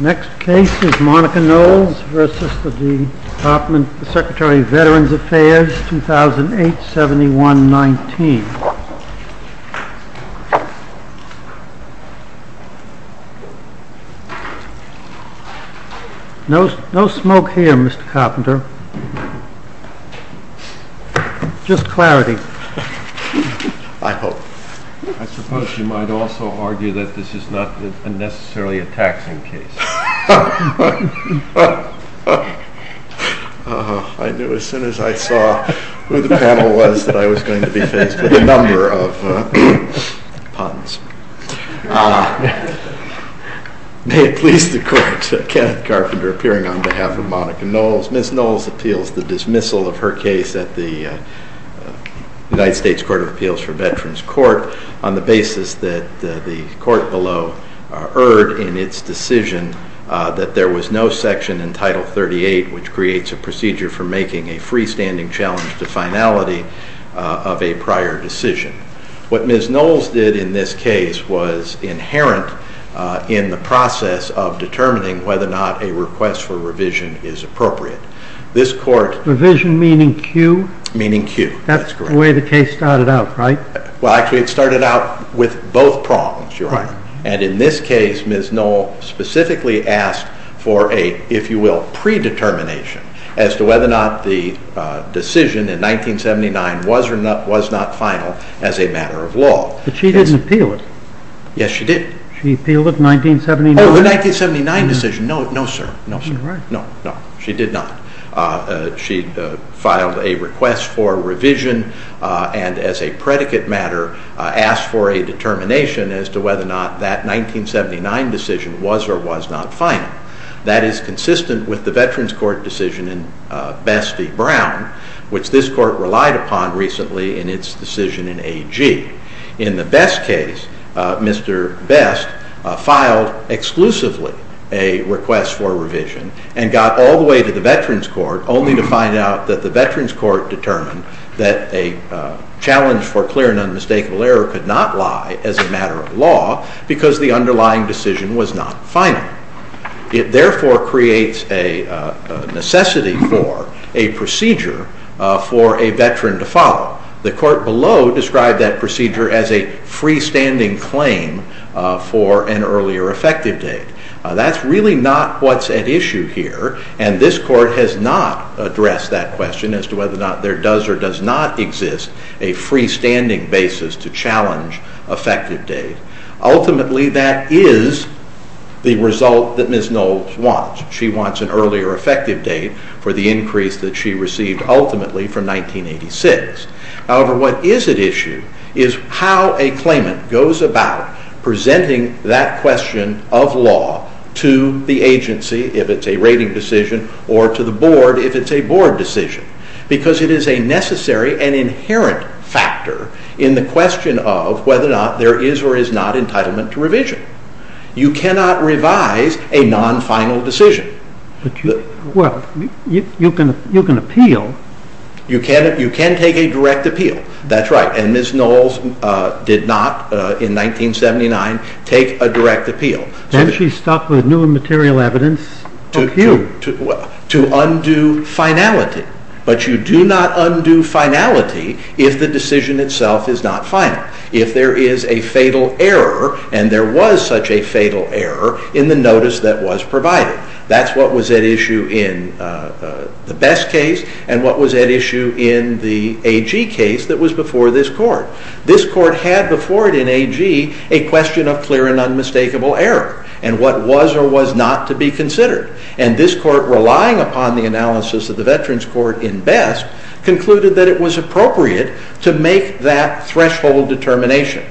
Next case is Monica Knowles v. Department of the Secretary of Veterans Affairs, 2008-71-19. No smoke here, Mr. Carpenter. Just clarity. I suppose you might also argue that this is not necessarily a taxing case. I knew as soon as I saw who the panel was that I was going to be faced with a number of puns. May it please the Court, Kenneth Carpenter appearing on behalf of Monica Knowles. Ms. Knowles appeals the dismissal of her case at the United States Court of Appeals for Veterans Court on the basis that the court below erred in its decision that there was no section in Title 38 which creates a procedure for making a freestanding challenge to finality of a prior decision. What Ms. Knowles did in this case was inherent in the process of determining whether or not a request for revision is appropriate. Revision meaning cue? Meaning cue. That's the way the case started out, right? Well, actually it started out with both prongs, Your Honor. And in this case Ms. Knowles specifically asked for a, if you will, predetermination as to whether or not the decision in 1979 was or was not final as a matter of law. But she didn't appeal it. Yes, she did. She appealed it in 1979. Oh, the 1979 decision. No, no, sir. No, sir. No, no. She did not. She filed a request for revision and as a predicate matter asked for a determination as to whether or not that 1979 decision was or was not final. That is consistent with the Veterans Court decision in Best v. Brown, which this court relied upon recently in its decision in AG. In the Best case, Mr. Best filed exclusively a request for revision and got all the way to the Veterans Court only to find out that the Veterans Court determined that a challenge for clear and unmistakable error could not lie as a matter of law because the underlying decision was not final. It therefore creates a necessity for a procedure for a veteran to follow. The court below described that procedure as a freestanding claim for an earlier effective date. That's really not what's at issue here and this court has not addressed that question as to whether or not there does or does not exist a freestanding basis to challenge effective date. Ultimately, that is the result that Ms. Knowles wants. She wants an earlier effective date for the increase that she received ultimately from 1986. However, what is at issue is how a claimant goes about presenting that question of law to the agency, if it's a rating decision, or to the board if it's a board decision because it is a necessary and inherent factor in the question of whether or not there is or is not entitlement to revision. You cannot revise a non-final decision. You can appeal. You can take a direct appeal. That's right. Ms. Knowles did not, in 1979, take a direct appeal. Then she stuck with new material evidence to appeal. To undo finality. But you do not undo finality if the decision itself is not final. If there is a fatal error and there was such a fatal error in the notice that was provided. That's what was at issue in the Best case and what was at issue in the AG case that was before this court. This court had before it in AG a question of clear and unmistakable error and what was or was not to be considered. And this court, relying upon the analysis of the Veterans Court in Best, concluded that it was appropriate to make that threshold determination.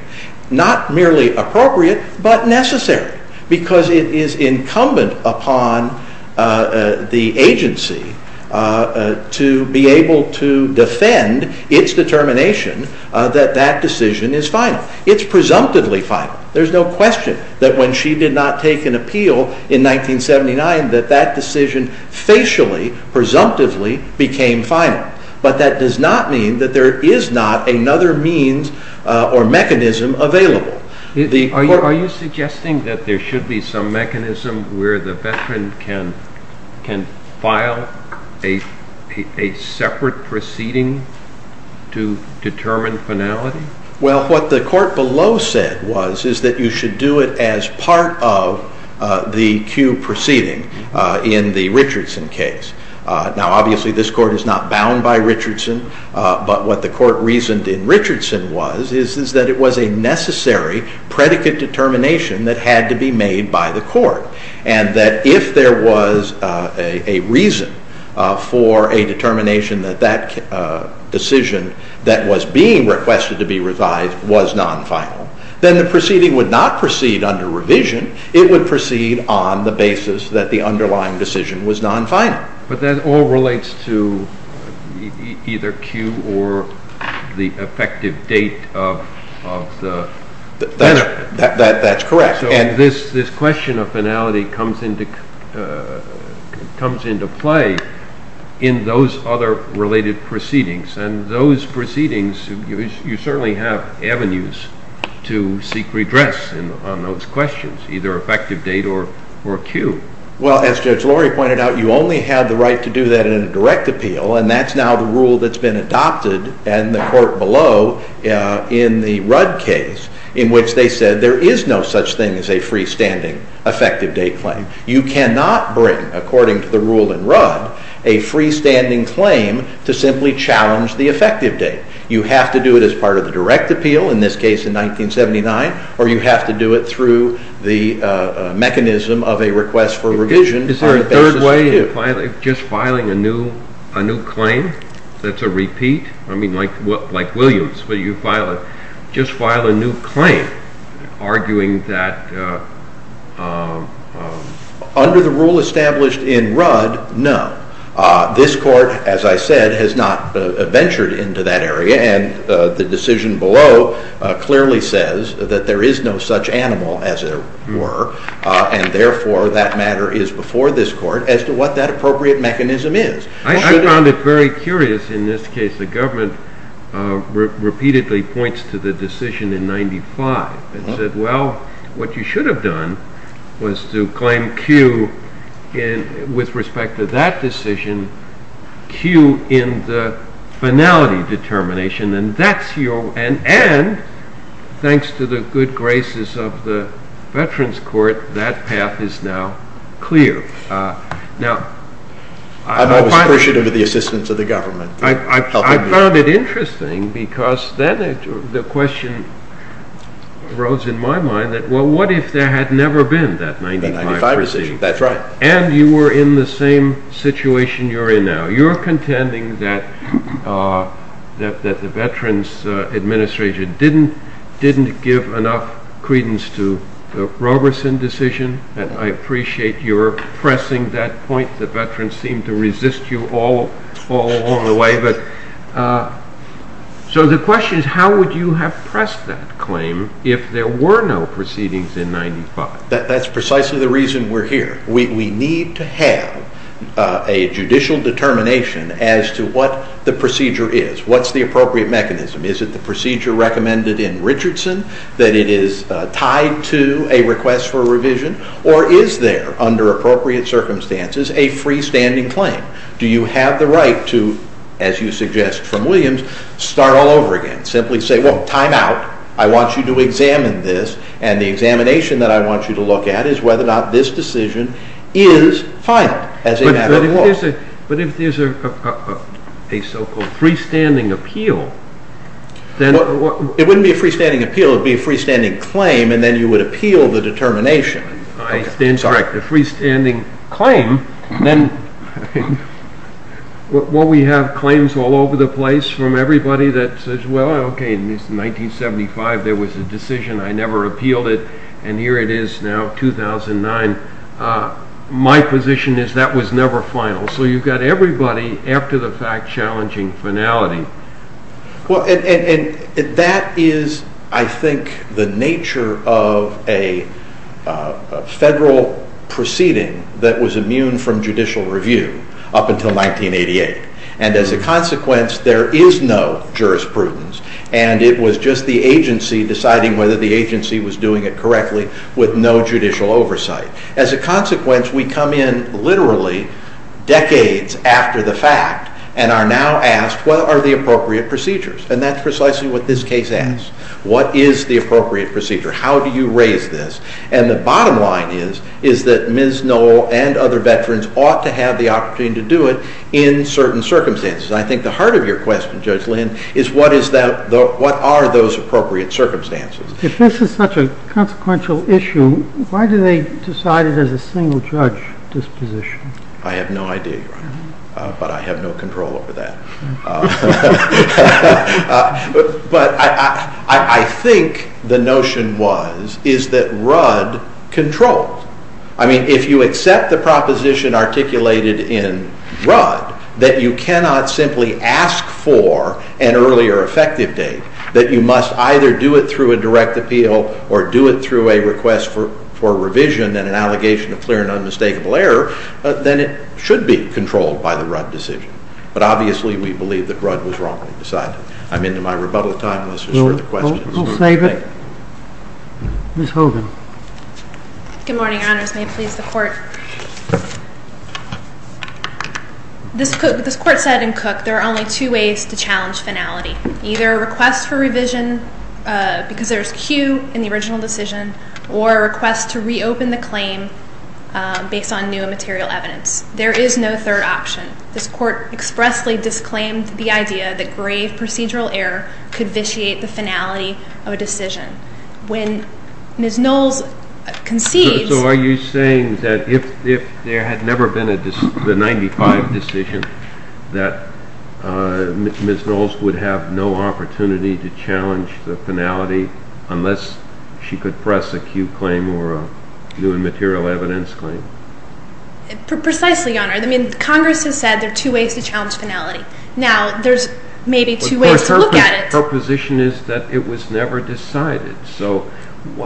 Not merely appropriate, but necessary. Because it is incumbent upon the agency to be able to defend its determination that that decision is final. It's presumptively final. There's no question that when she did not take an appeal in 1979 that that decision facially, presumptively became final. But that does not mean that there is not another means or mechanism available. Are you suggesting that there should be some mechanism where the veteran can file a separate proceeding to determine finality? Well, what the court below said was is that you should do it as part of the cue proceeding in the Richardson case. Now, obviously, this court is not bound by Richardson. But what the court reasoned in Richardson was is that it was a necessary predicate determination that had to be made by the court. And that if there was a reason for a determination that that decision that was being requested to be revised was non-final, then the proceeding would not proceed under revision. It would proceed on the basis that the underlying decision was non-final. But that all relates to either cue or the effective date of the... That's correct. So this question of finality comes into play in those other related proceedings. And those proceedings, you certainly have avenues to seek redress on those questions, either effective date or cue. Well, as Judge Laurie pointed out, you only have the right to do that in a direct appeal. And that's now the rule that's been adopted in the court below in the Rudd case, in which they said there is no such thing as a freestanding effective date claim. You cannot bring, according to the rule in Rudd, a freestanding claim to simply challenge the effective date. You have to do it as part of the direct appeal, in this case in 1979, or you have to do it through the mechanism of a request for revision. Is there a third way of just filing a new claim that's a repeat? I mean, like Williams, where you just file a new claim, arguing that... Under the rule established in Rudd, no. This court, as I said, has not ventured into that area. And the decision below clearly says that there is no such animal as there were. And therefore, that matter is before this court as to what that appropriate mechanism is. I found it very curious, in this case, the government repeatedly points to the decision in 1995. It said, well, what you should have done was to claim cue with respect to that decision, cue in the finality determination. And thanks to the good graces of the Veterans Court, that path is now clear. I'm always appreciative of the assistance of the government. I found it interesting because then the question arose in my mind that, well, what if there had never been that 1995 decision? That's right. And you were in the same situation you're in now. You're contending that the Veterans Administration didn't give enough credence to the Roberson decision. And I appreciate your pressing that point. The veterans seemed to resist you all along the way. So the question is, how would you have pressed that claim if there were no proceedings in 1995? That's precisely the reason we're here. We need to have a judicial determination as to what the procedure is. What's the appropriate mechanism? Is it the procedure recommended in Richardson that it is tied to a request for revision? Or is there, under appropriate circumstances, a freestanding claim? Do you have the right to, as you suggest from Williams, start all over again? Simply say, well, time out. I want you to examine this. And the examination that I want you to look at is whether or not this decision is filed as a matter of law. But if there's a so-called freestanding appeal, then... It wouldn't be a freestanding appeal. It would be a freestanding claim, and then you would appeal the determination. I stand corrected. A freestanding claim? Then, while we have claims all over the place from everybody that says, well, okay, in 1975 there was a decision. I never appealed it. And here it is now, 2009. My position is that was never final. So you've got everybody after the fact challenging finality. Well, and that is, I think, the nature of a federal proceeding that was immune from judicial review up until 1988. And as a consequence, there is no jurisprudence. And it was just the agency deciding whether the agency was doing it correctly with no judicial oversight. As a consequence, we come in literally decades after the fact and are now asked, what are the appropriate procedures? And that's precisely what this case asks. What is the appropriate procedure? How do you raise this? And the bottom line is that Ms. Knoll and other veterans ought to have the opportunity to do it in certain circumstances. And I think the heart of your question, Judge Lynn, is what are those appropriate circumstances? If this is such a consequential issue, why do they decide it as a single judge disposition? I have no idea, Your Honor. But I have no control over that. But I think the notion was, is that RUD controls. I mean, if you accept the proposition articulated in RUD that you cannot simply ask for an earlier effective date, that you must either do it through a direct appeal or do it through a request for revision and an allegation of clear and unmistakable error, then it should be controlled by the RUD decision. But obviously, we believe that RUD was wrong to decide it. I'm into my rebuttal time. Let's just hear the questions. We'll save it. Ms. Hogan. Good morning, Your Honors. May it please the Court? This Court said in Cook there are only two ways to challenge finality. Either a request for revision because there's a queue in the original decision or a request to reopen the claim based on new and material evidence. There is no third option. This Court expressly disclaimed the idea that grave procedural error could vitiate the finality of a decision. When Ms. Knowles concedes... So are you saying that if there had never been the 95 decision unless she could press a queue claim or a new and material evidence claim? Precisely, Your Honor. I mean, Congress has said there are two ways to challenge finality. Now, there's maybe two ways to look at it. But her position is that it was never decided. So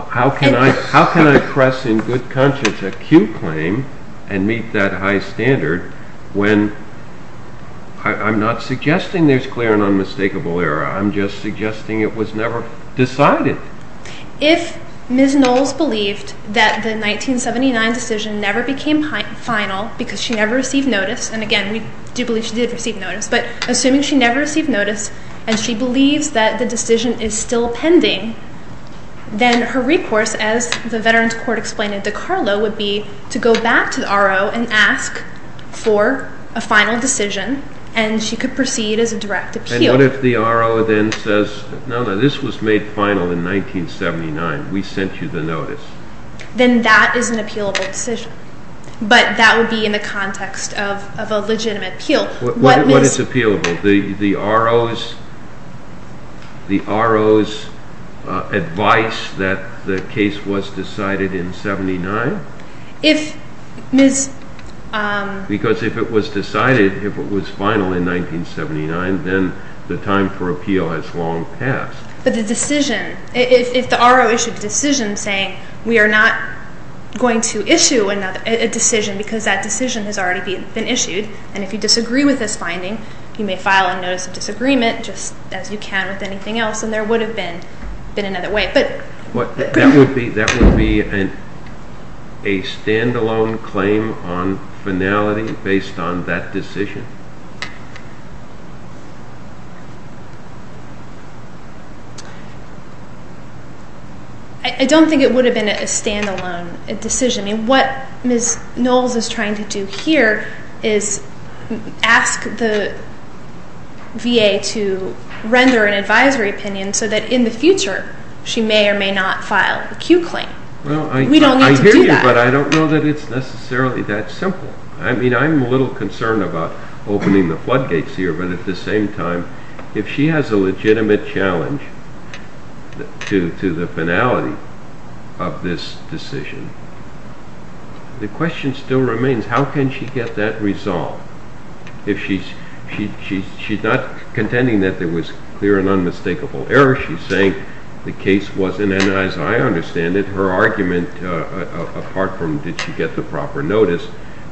how can I press in good conscience a queue claim and meet that high standard when I'm not suggesting there's clear and unmistakable error. I'm just suggesting it was never decided. If Ms. Knowles believed that the 1979 decision never became final because she never received notice and, again, we do believe she did receive notice but assuming she never received notice and she believes that the decision is still pending then her recourse, as the Veterans Court explained in DiCarlo, would be to go back to the RO and ask for a final decision and she could proceed as a direct appeal. And what if the RO then says, no, no, this was made final in 1979, we sent you the notice? Then that is an appealable decision. But that would be in the context of a legitimate appeal. What is appealable? The RO's advice that the case was decided in 1979? If Ms. Because if it was decided, if it was final in 1979 then the time for appeal has long passed. But the decision, if the RO issued a decision saying we are not going to issue a decision because that decision has already been issued and if you disagree with this finding you may file a notice of disagreement just as you can with anything else and there would have been another way. That would be a stand-alone claim on finality based on that decision? I don't think it would have been a stand-alone decision. What Ms. Knowles is trying to do here is ask the VA to render an advisory opinion so that in the future she may or may not file a Q claim. We don't need to do that. I hear you, but I don't know that it's necessarily that simple. whether or not she's going to file a Q claim. Opening the floodgates here, but at the same time if she has a legitimate challenge to the finality of this decision the question still remains how can she get that resolved? If she's not contending that there was clear and unmistakable error she's saying the case wasn't and as I understand it her argument apart from did she get the proper notice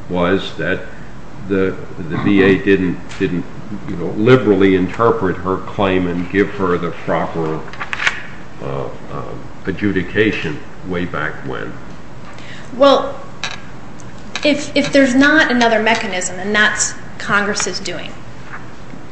was that the VA didn't liberally interpret her claim and give her the proper adjudication way back when. Well, if there's not another mechanism and that's what Congress is doing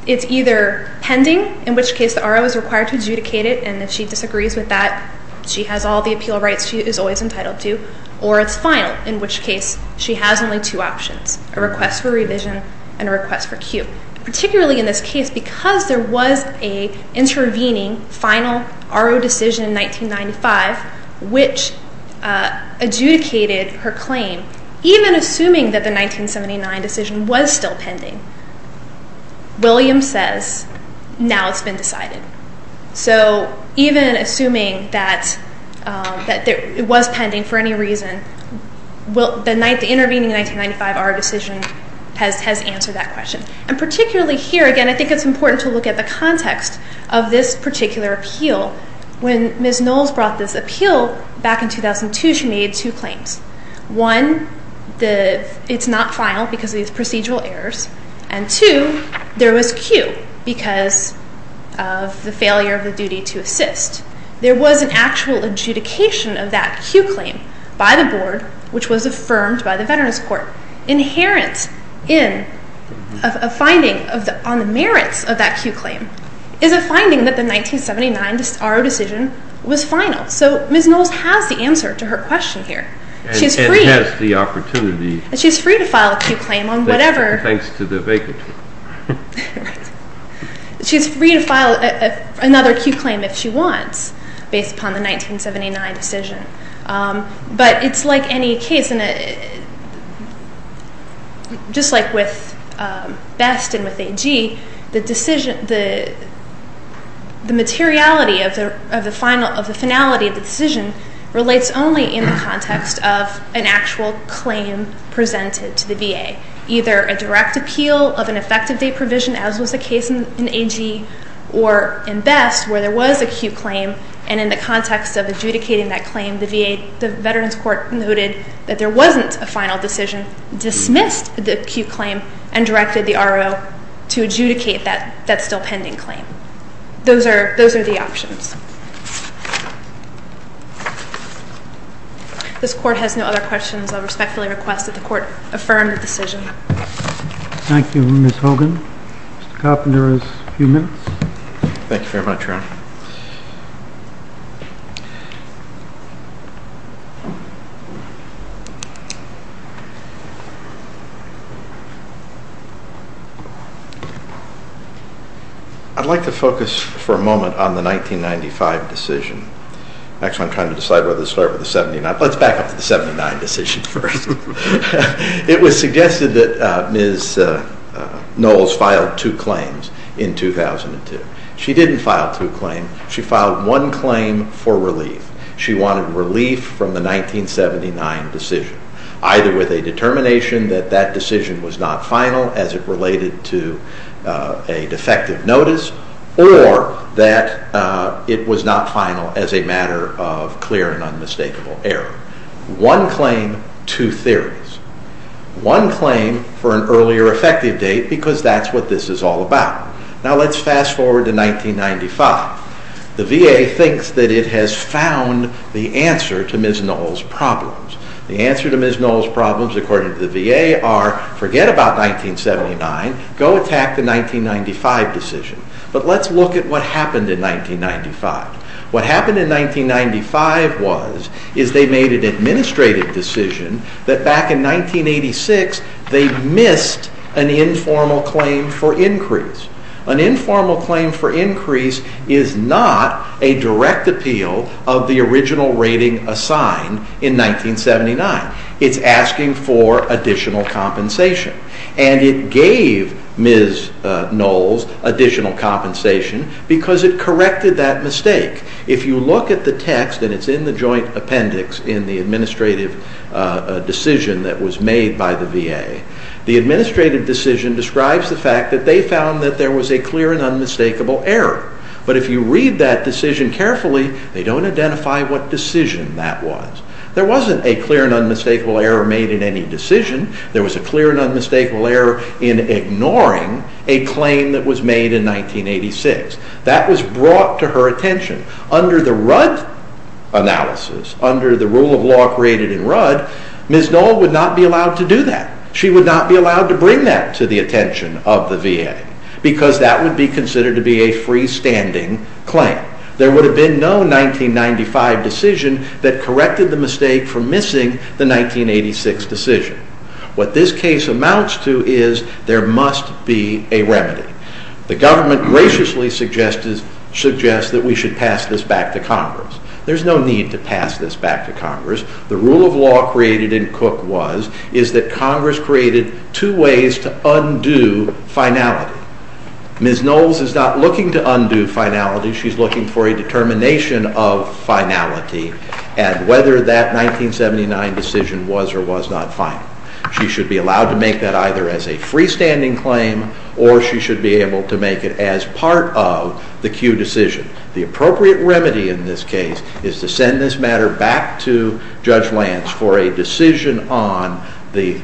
it's either pending, in which case the RO is required to adjudicate it and if she disagrees with that she has all the appeal rights she is always entitled to or it's final, in which case she has only two options a request for revision and a request for Q. Particularly in this case because there was a intervening final RO decision in 1995 which adjudicated her claim even assuming that the 1979 decision was still pending Williams says now it's been decided. So even assuming that it was pending for any reason the intervening 1995 RO decision has answered that question. And particularly here again I think it's important to look at the context of this particular appeal when Ms. Knowles brought this appeal back in 2002 she made two claims. One, it's not final because of these procedural errors and two, there was Q because of the failure of the duty to assist. There was an actual adjudication of that Q claim by the board which was affirmed by the Veterans Court. Inherent in a finding on the merits of that Q claim is a finding that the 1979 RO decision was final. So Ms. Knowles has the answer to her question here. She's free to file a Q claim on whatever Thanks to the vacancy. She's free to file another Q claim if she wants. Based upon the 1979 decision. But it's like any case just like with Best and with AG the materiality of the finality of the decision relates only in the context of an actual claim presented to the VA. Either a direct appeal of an effective date provision as was the case in AG or in Best where there was a Q claim and in the context of adjudicating that claim the Veterans Court noted that there wasn't a final decision dismissed the Q claim and directed the RO to adjudicate that still pending claim. Those are the options. This court has no other questions. I respectfully request that the court affirm the decision. Thank you Ms. Hogan. Mr. Coppender has a few minutes. Thank you very much Ron. I'd like to focus for a moment on the 1995 decision. Actually I'm trying to decide whether to start with the 79 Let's back up to the 79 decision first. It was suggested that Ms. Knowles filed two claims in 2002. She didn't file two claims. She filed one claim for relief. She wanted relief from the 1979 decision. Either with a determination that that decision was not final as it related to a defective notice or that it was not final as a matter of clear and unmistakable error. One claim, two theories. One claim for an earlier effective date because that's what this is all about. Now let's fast forward to 1995. The VA thinks that it has found the answer to Ms. Knowles' problems. The answer to Ms. Knowles' problems according to the VA are forget about 1979. Go attack the 1995 decision. But let's look at what happened in 1995. What happened in 1995 was is they made an administrative decision that back in 1986 they missed an informal claim for increase. An informal claim for increase is not a direct appeal of the original rating assigned in 1979. It's asking for additional compensation. And it gave Ms. Knowles additional compensation because it corrected that mistake. If you look at the text and it's in the joint appendix in the administrative decision that was made by the VA the administrative decision describes the fact that they found that there was a clear and unmistakable error. But if you read that decision carefully they don't identify what decision that was. There wasn't a clear and unmistakable error made in any decision. There was a clear and unmistakable error in ignoring a claim that was made in 1986. That was brought to her attention. Under the Rudd analysis under the rule of law created in Rudd Ms. Knowles would not be allowed to do that. She would not be allowed to bring that to the attention of the VA because that would be considered to be a freestanding claim. There would have been no 1995 decision that corrected the mistake for missing the 1986 decision. What this case amounts to is there must be a remedy. The government graciously suggests that we should pass this back to Congress. There's no need to pass this back to Congress. The rule of law created in Cook was is that Congress created two ways to undo finality. Ms. Knowles is not looking to undo finality. She's looking for a determination of finality and whether that 1979 decision was or was not final. She should be allowed to make that either as a freestanding claim or she should be able to make it as part of the Q decision. The appropriate remedy in this case is to send this matter back to Judge Lance for a decision on the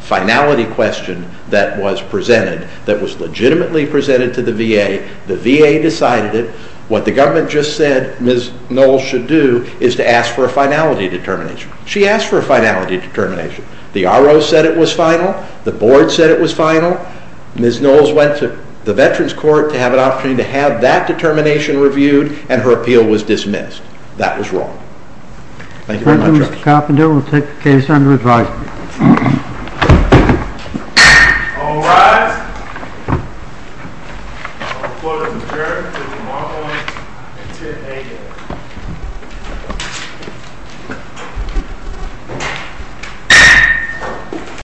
finality question that was presented that was legitimately presented to the VA. The VA decided it. What the government just said Ms. Knowles should do is to ask for a finality determination. She asked for a finality determination. The RO said it was final. The board said it was final. Ms. Knowles went to the Veterans Court to have that determination reviewed and her appeal was dismissed. That was wrong. Thank you very much.